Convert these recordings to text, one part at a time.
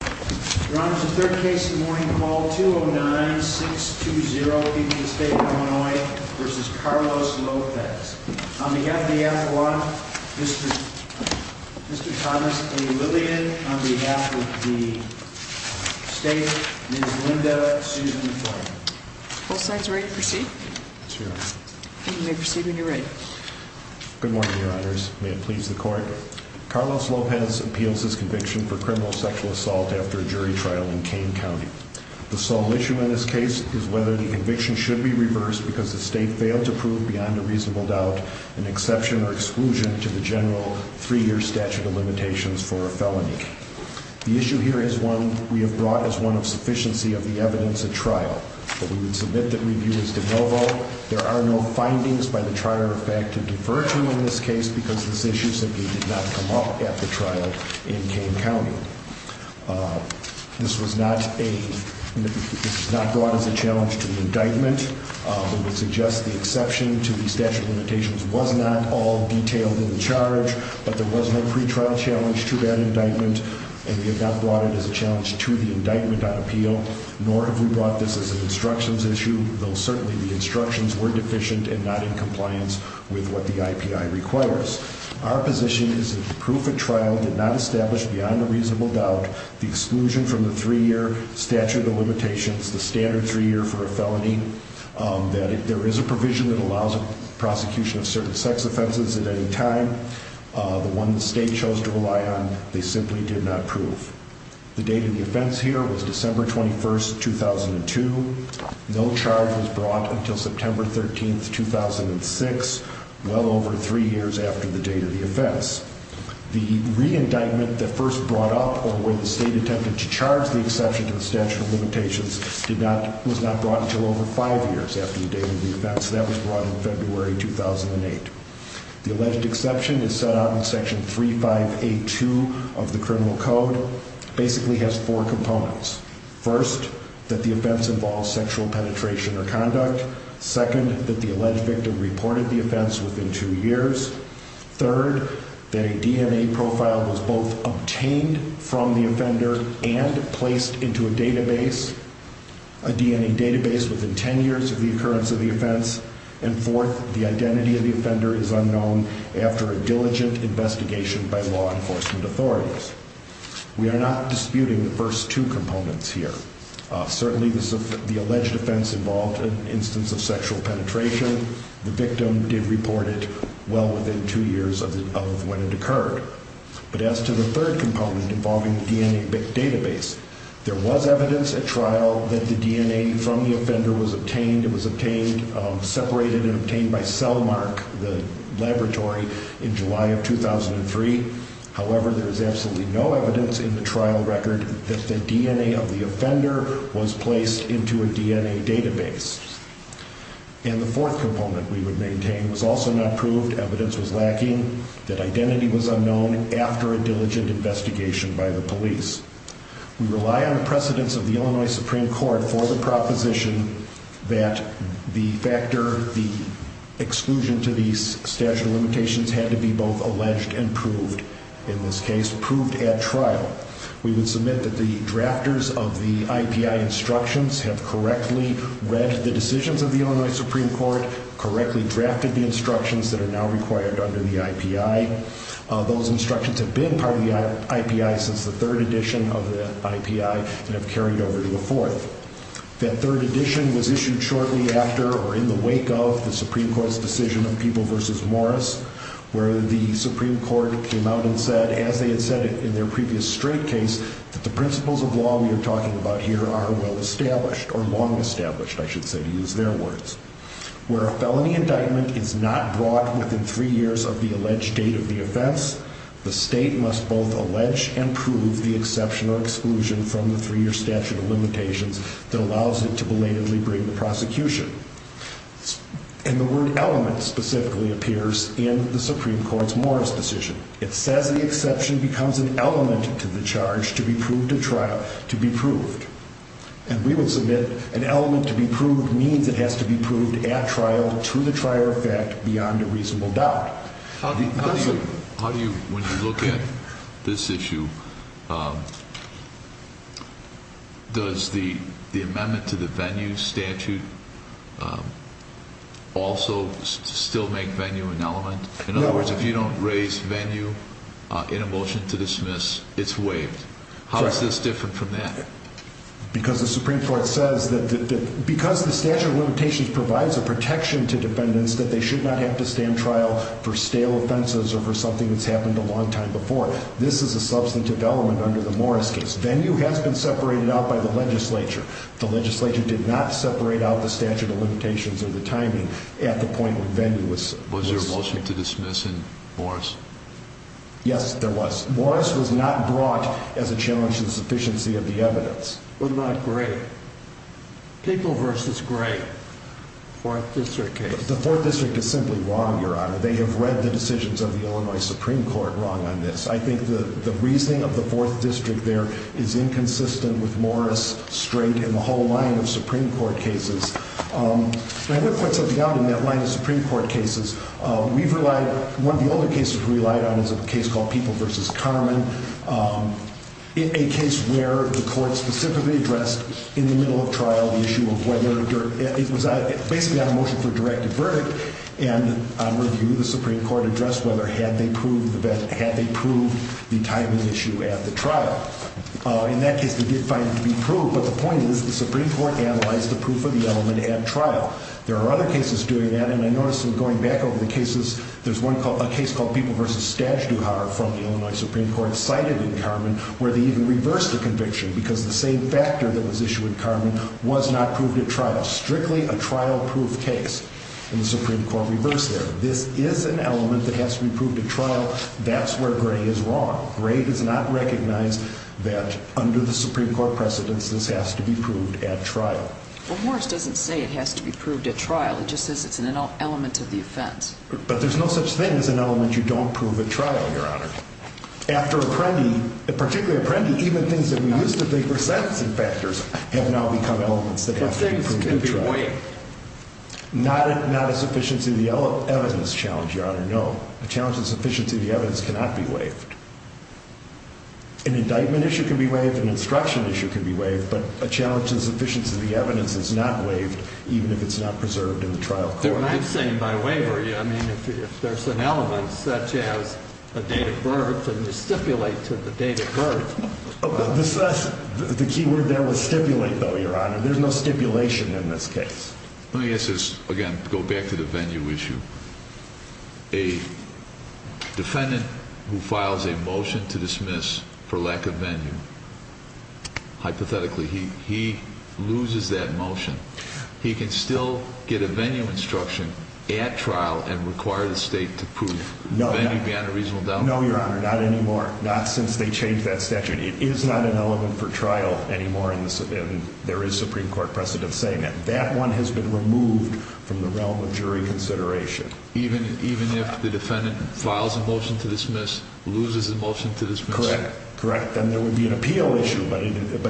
The third case of the morning, call 209-620, people of the state of Illinois, v. Carlos Lopez. On behalf of the appellant, Mr. Thomas A. Lillian. On behalf of the state, Ms. Linda Susan Floyd. Both sides ready to proceed? Let's hear it. You may proceed when you're ready. Good morning, your honors. May it please the court. Carlos Lopez appeals his conviction for criminal sexual assault after a jury trial in Kane County. The sole issue in this case is whether the conviction should be reversed because the state failed to prove beyond a reasonable doubt an exception or exclusion to the general three-year statute of limitations for a felony. The issue here is one we have brought as one of sufficiency of the evidence at trial. We would submit the review as de novo. There are no findings by the trier of fact to defer to in this case because this issue simply did not come up at the trial in Kane County. This was not a, this was not brought as a challenge to the indictment. We would suggest the exception to the statute of limitations was not all detailed in the charge, but there was no pretrial challenge to that indictment. And we have not brought it as a challenge to the indictment on appeal, nor have we brought this as an instructions issue, though certainly the instructions were deficient and not in compliance with what the IPI requires. Our position is that the proof at trial did not establish beyond a reasonable doubt the exclusion from the three-year statute of limitations, the standard three-year for a felony. That if there is a provision that allows a prosecution of certain sex offenses at any time, the one the state chose to rely on, they simply did not prove. The date of the offense here was December 21st, 2002. No charge was brought until September 13th, 2006, well over three years after the date of the offense. The re-indictment that first brought up or where the state attempted to charge the exception to the statute of limitations did not, was not brought until over five years after the date of the offense. That was brought in February 2008. The alleged exception is set out in section 3582 of the criminal code. Basically has four components. First, that the offense involves sexual penetration or conduct. Second, that the alleged victim reported the offense within two years. Third, that a DNA profile was both obtained from the offender and placed into a database, a DNA database within ten years of the occurrence of the offense. And fourth, the identity of the offender is unknown after a diligent investigation by law enforcement authorities. We are not disputing the first two components here. Certainly the alleged offense involved an instance of sexual penetration. The victim did report it well within two years of when it occurred. But as to the third component involving the DNA database, there was evidence at trial that the DNA from the offender was obtained. Separated and obtained by Cellmark, the laboratory, in July of 2003. However, there is absolutely no evidence in the trial record that the DNA of the offender was placed into a DNA database. And the fourth component we would maintain was also not proved. Evidence was lacking. That identity was unknown after a diligent investigation by the police. We rely on the precedence of the Illinois Supreme Court for the proposition that the factor, the exclusion to these statute of limitations had to be both alleged and proved. In this case, proved at trial. We would submit that the drafters of the IPI instructions have correctly read the decisions of the Illinois Supreme Court, correctly drafted the instructions that are now required under the IPI. Those instructions have been part of the IPI since the third edition of the IPI and have carried over to the fourth. That third edition was issued shortly after, or in the wake of, the Supreme Court's decision of People v. Morris, where the Supreme Court came out and said, as they had said in their previous straight case, that the principles of law we are talking about here are well-established, or long-established, I should say, to use their words. Where a felony indictment is not brought within three years of the alleged date of the offense, the state must both allege and prove the exception or exclusion from the three-year statute of limitations that allows it to belatedly bring the prosecution. And the word element specifically appears in the Supreme Court's Morris decision. It says the exception becomes an element to the charge to be proved at trial, to be proved. And we will submit an element to be proved means it has to be proved at trial to the trier effect beyond a reasonable doubt. How do you, when you look at this issue, does the amendment to the venue statute also still make venue an element? In other words, if you don't raise venue in a motion to dismiss, it's waived. How is this different from that? Because the Supreme Court says that because the statute of limitations provides a protection to defendants that they should not have to stand trial for stale offenses or for something that's happened a long time before. This is a substantive element under the Morris case. Venue has been separated out by the legislature. The legislature did not separate out the statute of limitations or the timing at the point when venue was... Was there a motion to dismiss in Morris? Yes, there was. Morris was not brought as a challenge to the sufficiency of the evidence. But not Gray. People versus Gray. Fourth District case. The Fourth District is simply wrong, Your Honor. They have read the decisions of the Illinois Supreme Court wrong on this. I think the reasoning of the Fourth District there is inconsistent with Morris straight in the whole line of Supreme Court cases. I want to point something out in that line of Supreme Court cases. We've relied... One of the older cases we relied on is a case called People versus Carmen. A case where the court specifically addressed in the middle of trial the issue of whether... It was basically on a motion for a directive verdict. And on review, the Supreme Court addressed whether had they proved the timing issue at the trial. In that case, they did find it to be proved. But the point is the Supreme Court analyzed the proof of the element at trial. There are other cases doing that. And I noticed in going back over the cases, there's one called... A case called People versus Stajduhar from the Illinois Supreme Court cited in Carmen where they even reversed the conviction. Because the same factor that was issued in Carmen was not proved at trial. Strictly a trial-proof case. And the Supreme Court reversed there. This is an element that has to be proved at trial. That's where Gray is wrong. Gray does not recognize that under the Supreme Court precedence, this has to be proved at trial. Well, Morris doesn't say it has to be proved at trial. He just says it's an element of the offense. But there's no such thing as an element you don't prove at trial, Your Honor. After Apprendi, particularly Apprendi, even things that we used to think were sentencing factors have now become elements that have to be proved at trial. But things can be waived. Not a sufficiency of the evidence challenge, Your Honor, no. A challenge to the sufficiency of the evidence cannot be waived. An indictment issue can be waived. An instruction issue can be waived. But a challenge to the sufficiency of the evidence is not waived even if it's not preserved in the trial court. What I'm saying by waiver, I mean if there's an element such as a date of birth and you stipulate to the date of birth... The key word there was stipulate, though, Your Honor. There's no stipulation in this case. Let me ask this. Again, go back to the venue issue. A defendant who files a motion to dismiss for lack of venue, hypothetically, he loses that motion. He can still get a venue instruction at trial and require the state to prove the venue beyond a reasonable doubt. No, Your Honor, not anymore. Not since they changed that statute. It is not an element for trial anymore, and there is Supreme Court precedent saying that. That one has been removed from the realm of jury consideration. Even if the defendant files a motion to dismiss, loses the motion to dismiss? Correct. Correct. Then there would be an appeal issue, but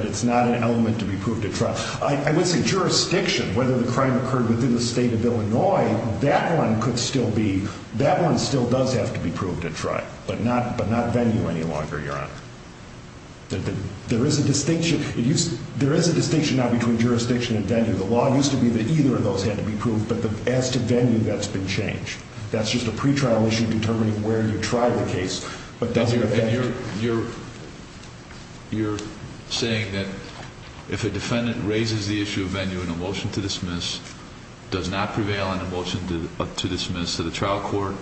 it's not an element to be proved at trial. I would say jurisdiction, whether the crime occurred within the state of Illinois, that one could still be... That one still does have to be proved at trial, but not venue any longer, Your Honor. There is a distinction now between jurisdiction and venue. The law used to be that either of those had to be proved, but as to venue, that's been changed. That's just a pretrial issue determining where you tried the case. You're saying that if a defendant raises the issue of venue in a motion to dismiss, does not prevail in a motion to dismiss to the trial court,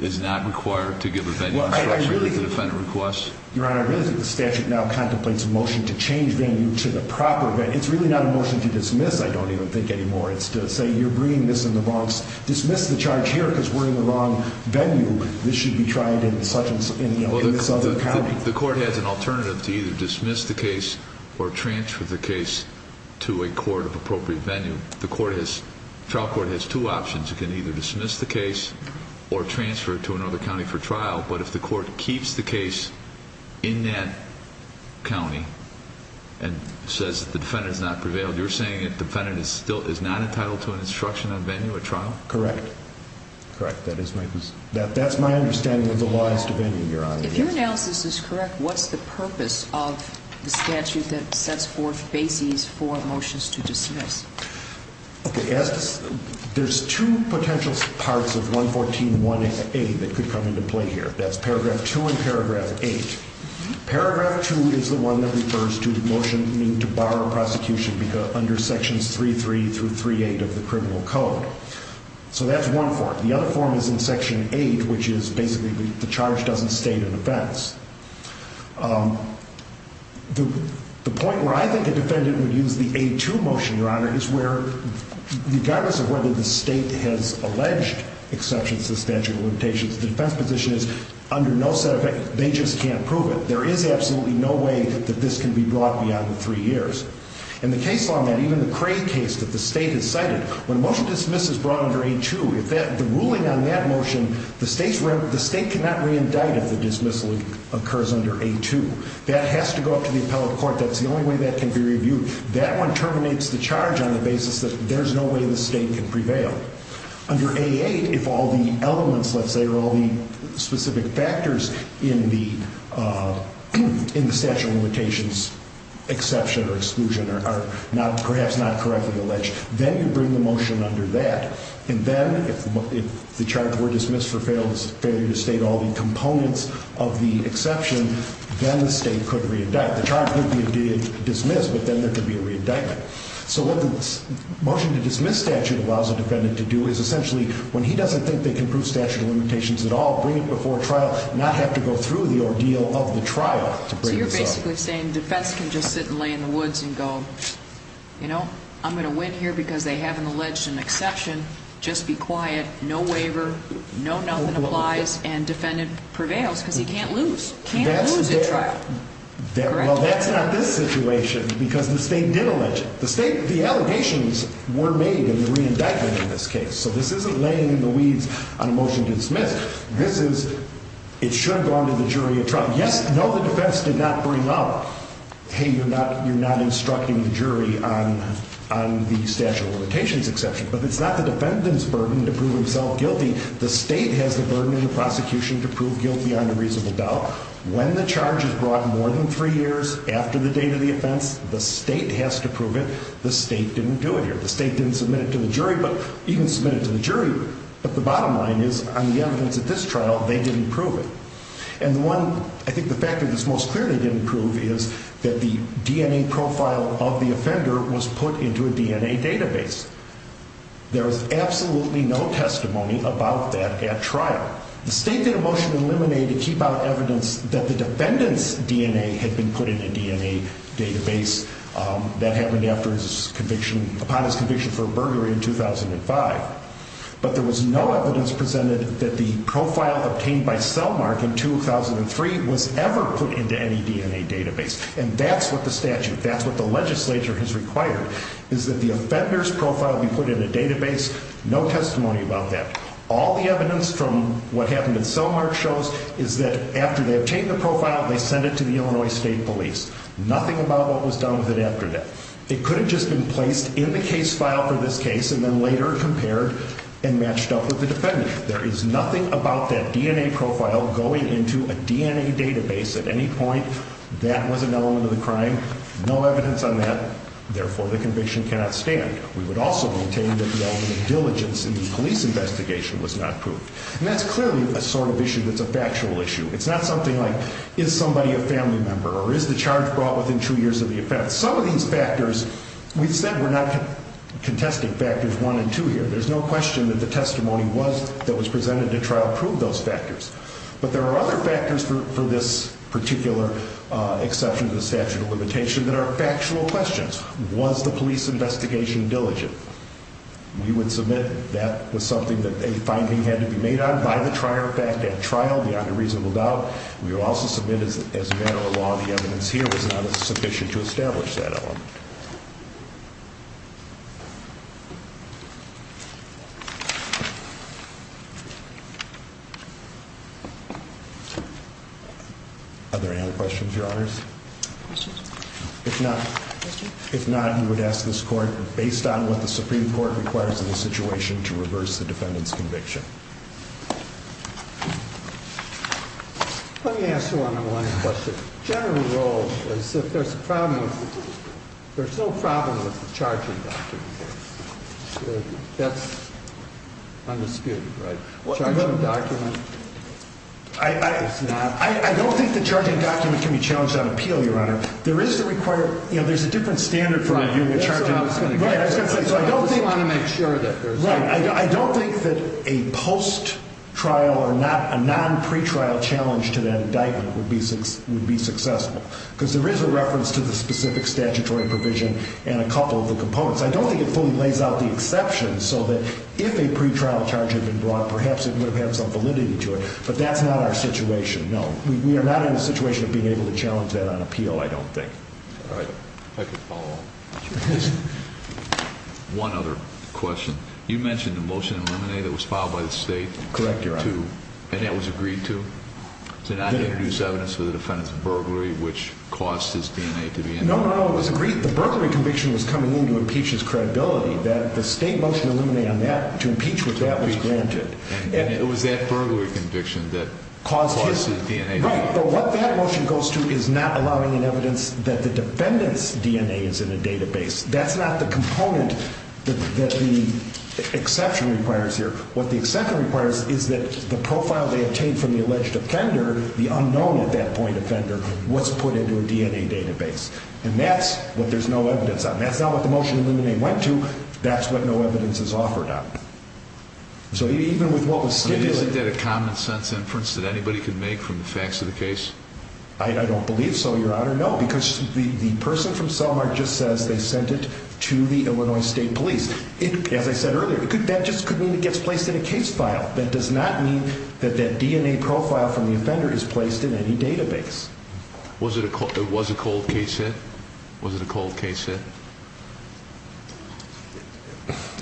is not required to give a venue instruction? Your Honor, I really think the statute now contemplates a motion to change venue to the proper venue. It's really not a motion to dismiss, I don't even think anymore. It's to say, you're bringing this in the wrong... Dismiss the charge here because we're in the wrong venue. This should be tried in this other county. The court has an alternative to either dismiss the case or transfer the case to a court of appropriate venue. The trial court has two options. It can either dismiss the case or transfer it to another county for trial. But if the court keeps the case in that county and says that the defendant has not prevailed, you're saying that the defendant is not entitled to an instruction on venue at trial? Correct. Correct. That's my understanding of the laws to venue, Your Honor. If your analysis is correct, what's the purpose of the statute that sets forth bases for motions to dismiss? There's two potential parts of 114.1a that could come into play here. That's paragraph 2 and paragraph 8. Paragraph 2 is the one that refers to the motion to bar a prosecution under sections 3.3 through 3.8 of the criminal code. So that's one form. The other form is in section 8, which is basically the charge doesn't state an offense. The point where I think a defendant would use the A2 motion, Your Honor, is where regardless of whether the state has alleged exceptions to the statute of limitations, the defense position is under no set effect. They just can't prove it. There is absolutely no way that this can be brought beyond the three years. In the case law, even the Cray case that the state has cited, when a motion to dismiss is brought under A2, the ruling on that motion, the state cannot re-indict if the dismissal occurs under A2. That has to go up to the appellate court. That's the only way that can be reviewed. That one terminates the charge on the basis that there's no way the state can prevail. Under A8, if all the elements, let's say, or all the specific factors in the statute of limitations exception or exclusion are perhaps not correctly alleged, then you bring the motion under that. And then if the charge were dismissed for failure to state all the components of the exception, then the state could re-indict. The charge could be dismissed, but then there could be a re-indictment. So what the motion to dismiss statute allows a defendant to do is essentially, when he doesn't think they can prove statute of limitations at all, bring it before trial, not have to go through the ordeal of the trial to bring this up. So you're basically saying defense can just sit and lay in the woods and go, you know, I'm going to win here because they haven't alleged an exception. Just be quiet, no waiver, no nothing applies, and defendant prevails because he can't lose. Can't lose at trial. Well, that's not this situation because the state did allege it. The allegations were made in the re-indictment in this case. So this isn't laying in the weeds on a motion to dismiss. This is, it should have gone to the jury at trial. Yes, no, the defense did not bring up, hey, you're not instructing the jury on the statute of limitations exception. But it's not the defendant's burden to prove himself guilty. The state has the burden in the prosecution to prove guilty on a reasonable doubt. When the charge is brought more than three years after the date of the offense, the state has to prove it. The state didn't do it here. The state didn't submit it to the jury, but you can submit it to the jury, but the bottom line is on the evidence at this trial, they didn't prove it. And the one, I think the factor that's most clear they didn't prove is that the DNA profile of the offender was put into a DNA database. There was absolutely no testimony about that at trial. The state did a motion to eliminate to keep out evidence that the defendant's DNA had been put in a DNA database. That happened after his conviction, upon his conviction for burglary in 2005. But there was no evidence presented that the profile obtained by Cellmark in 2003 was ever put into any DNA database. And that's what the statute, that's what the legislature has required, is that the offender's profile be put in a database. No testimony about that. All the evidence from what happened at Cellmark shows is that after they obtained the profile, they sent it to the Illinois State Police. Nothing about what was done with it after that. It could have just been placed in the case file for this case and then later compared and matched up with the defendant. There is nothing about that DNA profile going into a DNA database at any point. That was an element of the crime. No evidence on that. Therefore, the conviction cannot stand. We would also maintain that the element of diligence in the police investigation was not proved. And that's clearly a sort of issue that's a factual issue. It's not something like, is somebody a family member or is the charge brought within two years of the offense? Some of these factors, we said we're not contesting factors one and two here. There's no question that the testimony that was presented at trial proved those factors. But there are other factors for this particular exception to the statute of limitation that are factual questions. Was the police investigation diligent? We would submit that was something that a finding had to be made on by the trial, beyond a reasonable doubt. We will also submit as a matter of law, the evidence here was not sufficient to establish that element. Are there any other questions, Your Honors? If not, you would ask this court, based on what the Supreme Court requires in this situation, to reverse the defendant's conviction. Let me ask one more question. General rule is if there's a problem, there's no problem with the charging document. That's undisputed, right? Charging document is not. I don't think the charging document can be challenged on appeal, Your Honor. There is a required, you know, there's a different standard for reviewing a charging document. So I don't think. I just want to make sure that there's. Right, I don't think that a post-trial or a non-pre-trial challenge to that indictment would be successful. Because there is a reference to the specific statutory provision and a couple of the components. I don't think it fully lays out the exception so that if a pre-trial charge had been brought, perhaps it would have had some validity to it. But that's not our situation, no. We are not in a situation of being able to challenge that on appeal, I don't think. All right. If I could follow up. One other question. You mentioned the motion in limine that was filed by the state. Correct, Your Honor. And that was agreed to? To not introduce evidence for the defendant's burglary, which caused his DNA to be. No, no, it was agreed. The burglary conviction was coming in to impeach his credibility. That the state motion in limine on that, to impeach with that, was granted. And it was that burglary conviction that caused his DNA. Right. But what that motion goes to is not allowing an evidence that the defendant's DNA is in the database. That's not the component that the exception requires here. What the exception requires is that the profile they obtained from the alleged offender, the unknown at that point offender, was put into a DNA database. And that's what there's no evidence on. That's not what the motion in limine went to. That's what no evidence is offered on. So even with what was stipulated. Isn't that a common sense inference that anybody could make from the facts of the case? I don't believe so, Your Honor. No, because the person from Selmar just says they sent it to the Illinois State Police. As I said earlier, that just could mean it gets placed in a case file. That does not mean that that DNA profile from the offender is placed in any database. Was it a cold case hit? Was it a cold case hit?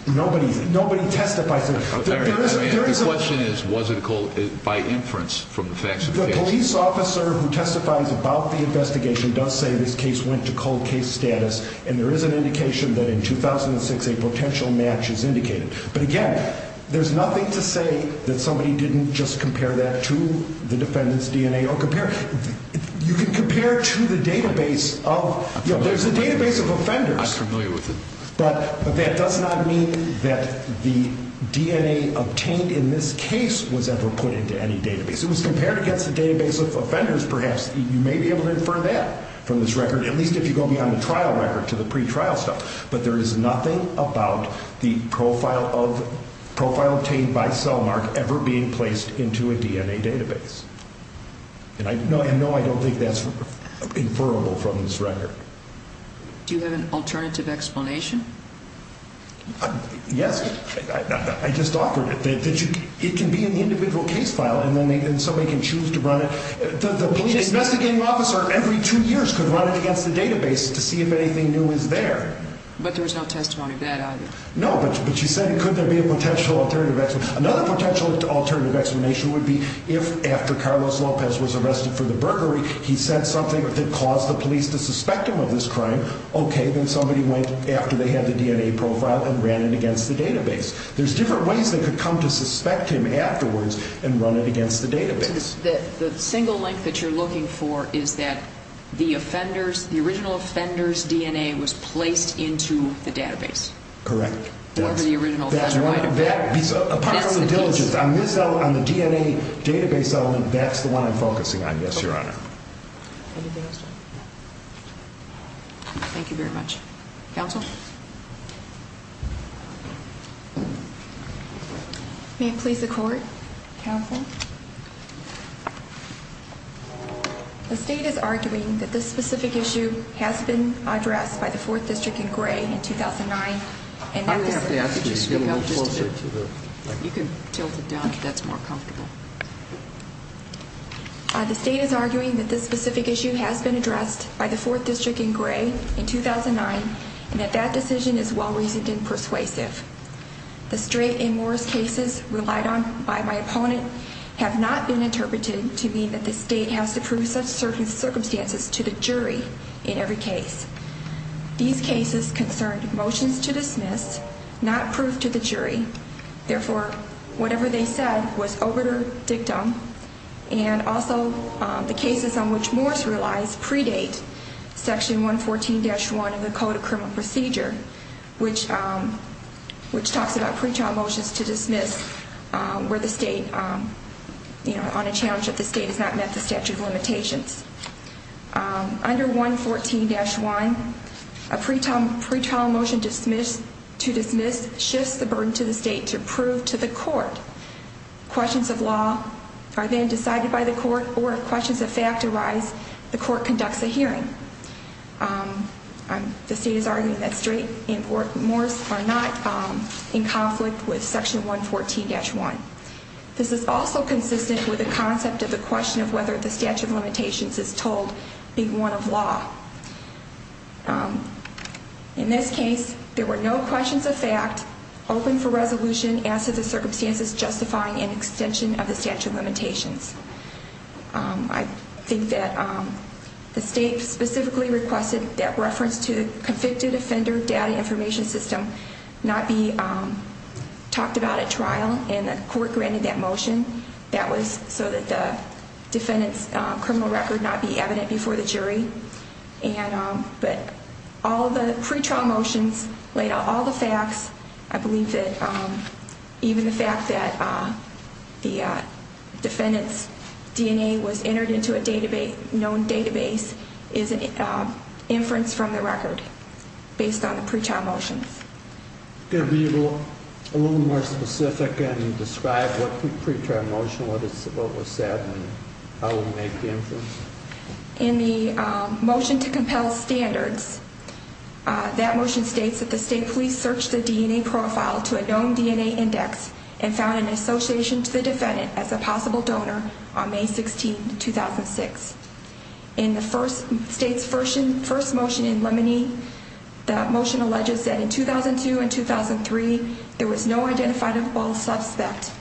Nobody testifies to that. The question is, was it a cold case hit by inference from the facts of the case? The police officer who testifies about the investigation does say this case went to cold case status. And there is an indication that in 2006 a potential match is indicated. But, again, there's nothing to say that somebody didn't just compare that to the defendant's DNA. You can compare to the database of offenders. I'm familiar with it. But that does not mean that the DNA obtained in this case was ever put into any database. It was compared against the database of offenders, perhaps. You may be able to infer that from this record, at least if you go beyond the trial record to the pretrial stuff. But there is nothing about the profile obtained by Selmar ever being placed into a DNA database. And, no, I don't think that's inferable from this record. Do you have an alternative explanation? Yes. I just offered it. It can be in the individual case file and somebody can choose to run it. The police investigating officer every two years could run it against the database to see if anything new is there. But there was no testimony to that either. No, but you said could there be a potential alternative explanation. Another potential alternative explanation would be if, after Carlos Lopez was arrested for the burglary, he said something that caused the police to suspect him of this crime, okay, then somebody went after they had the DNA profile and ran it against the database. There's different ways they could come to suspect him afterwards and run it against the database. So the single link that you're looking for is that the original offender's DNA was placed into the database? Correct. Or the original offender might have been. That's the piece. On the DNA database element, that's the one I'm focusing on, yes, Your Honor. Anything else? Thank you very much. Counsel? May it please the court? Counsel? The state is arguing that this specific issue has been addressed by the 4th District in Gray in 2009. I'm going to have to ask you to get a little closer to the mic. You can tilt it down if that's more comfortable. The state is arguing that this specific issue has been addressed by the 4th District in Gray in 2009 and that that decision is well-reasoned and persuasive. The Strait and Morris cases relied on by my opponent have not been interpreted to mean that the state has to prove such circumstances to the jury in every case. These cases concerned motions to dismiss, not proved to the jury, therefore, whatever they said was overdictum, and also the cases on which Morris relies predate Section 114-1 of the Code of Criminal Procedure, which talks about pretrial motions to dismiss where the state, you know, on a challenge that the state has not met the statute of limitations. Under 114-1, a pretrial motion to dismiss shifts the burden to the state to prove to the court. Questions of law are then decided by the court, or if questions of fact arise, the court conducts a hearing. The state is arguing that Strait and Morris are not in conflict with Section 114-1. This is also consistent with the concept of the question of whether the statute of limitations is told being one of law. In this case, there were no questions of fact, open for resolution, as to the circumstances justifying an extension of the statute of limitations. I think that the state specifically requested that reference to the convicted offender data information system not be talked about at trial, and the court granted that motion. That was so that the defendant's criminal record not be evident before the jury. But all the pretrial motions laid out all the facts. I believe that even the fact that the defendant's DNA was entered into a known database is an inference from the record based on the pretrial motions. Could you be a little more specific and describe what the pretrial motion was, what was said, and how it would make the inference? In the motion to compel standards, that motion states that the state police searched the DNA profile to a known DNA index and found an association to the defendant as a possible donor on May 16, 2006. In the state's first motion in limine, that motion alleges that in 2002 and 2003, there was no identifiable suspect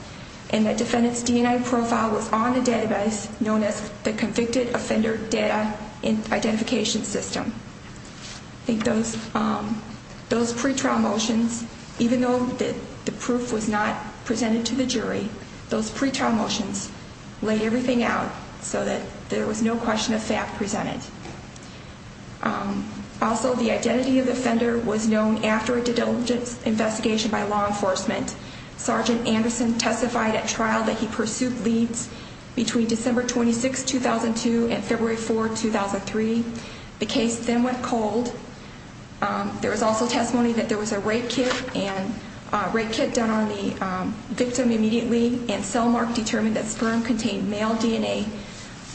and that defendant's DNA profile was on a database known as the convicted offender data identification system. I think those pretrial motions, even though the proof was not presented to the jury, those pretrial motions laid everything out so that there was no question of fact presented. Also, the identity of the offender was known after a dedulgent investigation by law enforcement. Sergeant Anderson testified at trial that he pursued leads between December 26, 2002 and February 4, 2003. The case then went cold. There was also testimony that there was a rape kit done on the victim immediately and cell mark determined that sperm contained male DNA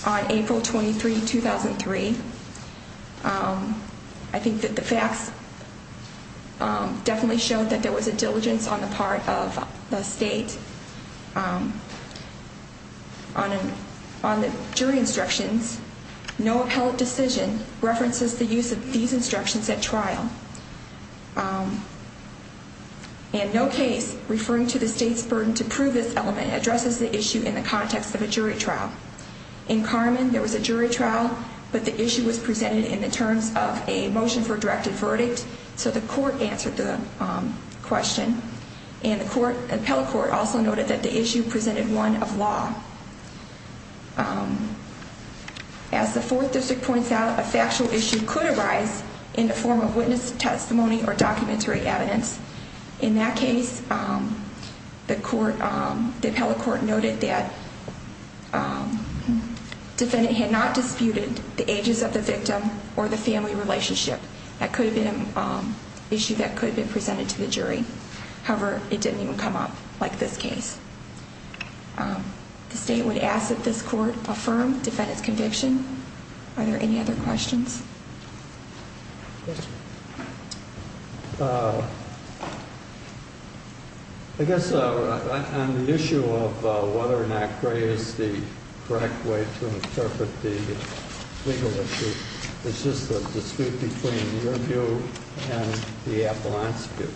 on April 23, 2003. I think that the facts definitely showed that there was a diligence on the part of the state. On the jury instructions, no appellate decision references the use of these instructions at trial. And no case referring to the state's burden to prove this element addresses the issue in the context of a jury trial. In Carmen, there was a jury trial, but the issue was presented in the terms of a motion for a directed verdict, so the court answered the question. And the appellate court also noted that the issue presented one of law. As the fourth district points out, a factual issue could arise in the form of witness testimony or documentary evidence. In that case, the appellate court noted that the defendant had not disputed the ages of the victim or the family relationship. That could have been an issue that could have been presented to the jury. However, it didn't even come up like this case. The state would ask that this court affirm the defendant's conviction. Are there any other questions? I guess on the issue of whether or not gray is the correct way to interpret the legal issue, it's just the dispute between your view and the appellant's view.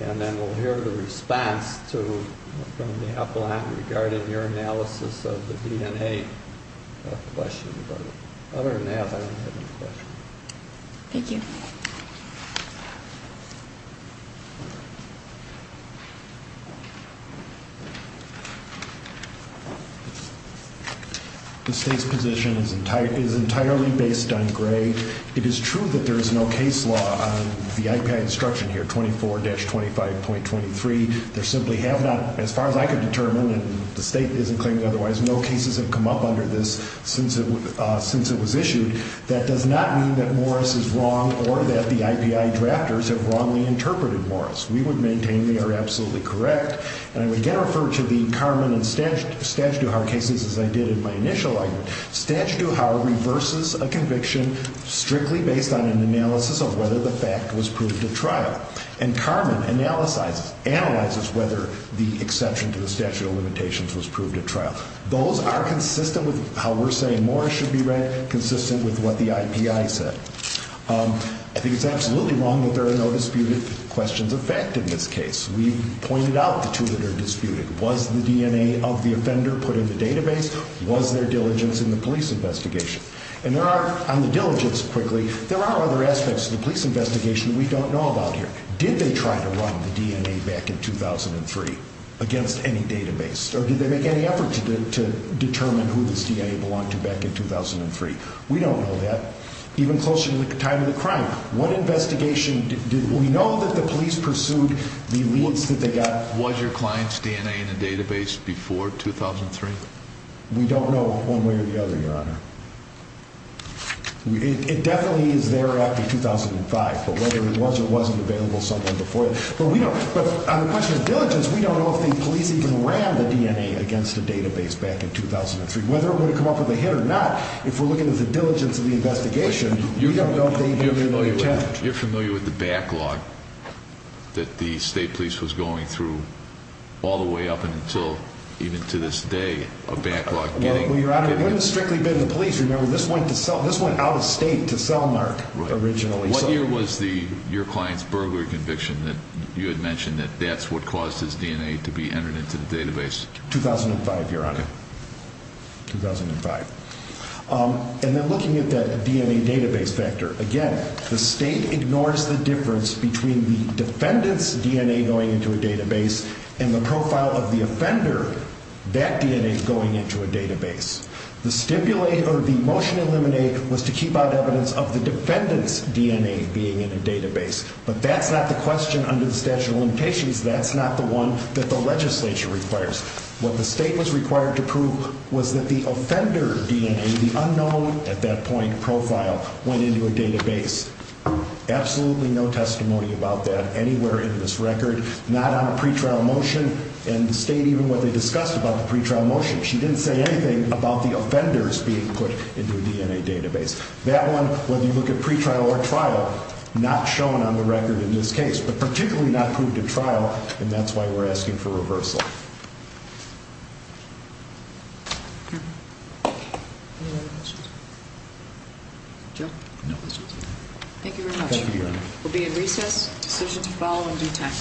And then we'll hear the response from the appellant regarding your analysis of the DNA question. But other than that, I don't have any questions. Thank you. The state's position is entirely based on gray. It is true that there is no case law on the IP instruction here, 24-25.23. There simply have not, as far as I can determine, and the state isn't claiming otherwise, no cases have come up under this since it was issued. That does not mean that Morris is wrong or that the IPI drafters have wrongly interpreted Morris. We would maintain they are absolutely correct. And I would again refer to the Karman and Statutte Duhar cases as I did in my initial argument. Statutte Duhar reverses a conviction strictly based on an analysis of whether the fact was proved at trial. And Karman analyzes whether the exception to the statute of limitations was proved at trial. Those are consistent with how we're saying Morris should be read, consistent with what the IPI said. I think it's absolutely wrong that there are no disputed questions of fact in this case. We've pointed out the two that are disputed. Was the DNA of the offender put in the database? Was there diligence in the police investigation? And there are, on the diligence, quickly, there are other aspects of the police investigation we don't know about here. Did they try to run the DNA back in 2003 against any database? Or did they make any effort to determine who this DNA belonged to back in 2003? We don't know that. Even closer to the time of the crime, what investigation did we know that the police pursued the leads that they got? Was your client's DNA in the database before 2003? We don't know one way or the other, Your Honor. It definitely is there after 2005, but whether it was or wasn't available somewhere before that. On the question of diligence, we don't know if the police even ran the DNA against a database back in 2003. Whether it would have come up with a hit or not, if we're looking at the diligence of the investigation, we don't know if they even ran the DNA. You're familiar with the backlog that the state police was going through all the way up until even to this day, a backlog? Well, Your Honor, it wouldn't have strictly been the police. Remember, this went out of state to Selmark originally. What year was your client's burglary conviction that you had mentioned that that's what caused his DNA to be entered into the database? 2005, Your Honor. Okay. 2005. And then looking at that DNA database factor, again, the state ignores the difference between the defendant's DNA going into a database and the profile of the offender, that DNA going into a database. The stipulate or the motion to eliminate was to keep out evidence of the defendant's DNA being in a database. But that's not the question under the statute of limitations. That's not the one that the legislature requires. What the state was required to prove was that the offender DNA, the unknown at that point profile, went into a database. Absolutely no testimony about that anywhere in this record, not on a pretrial motion. And the state, even what they discussed about the pretrial motion, she didn't say anything about the offenders being put into a DNA database. That one, whether you look at pretrial or trial, not shown on the record in this case, but particularly not proved in trial, and that's why we're asking for reversal. Any other questions? Joe? No questions. Thank you very much. Thank you, Your Honor. We'll be in recess. Decisions will follow in due time.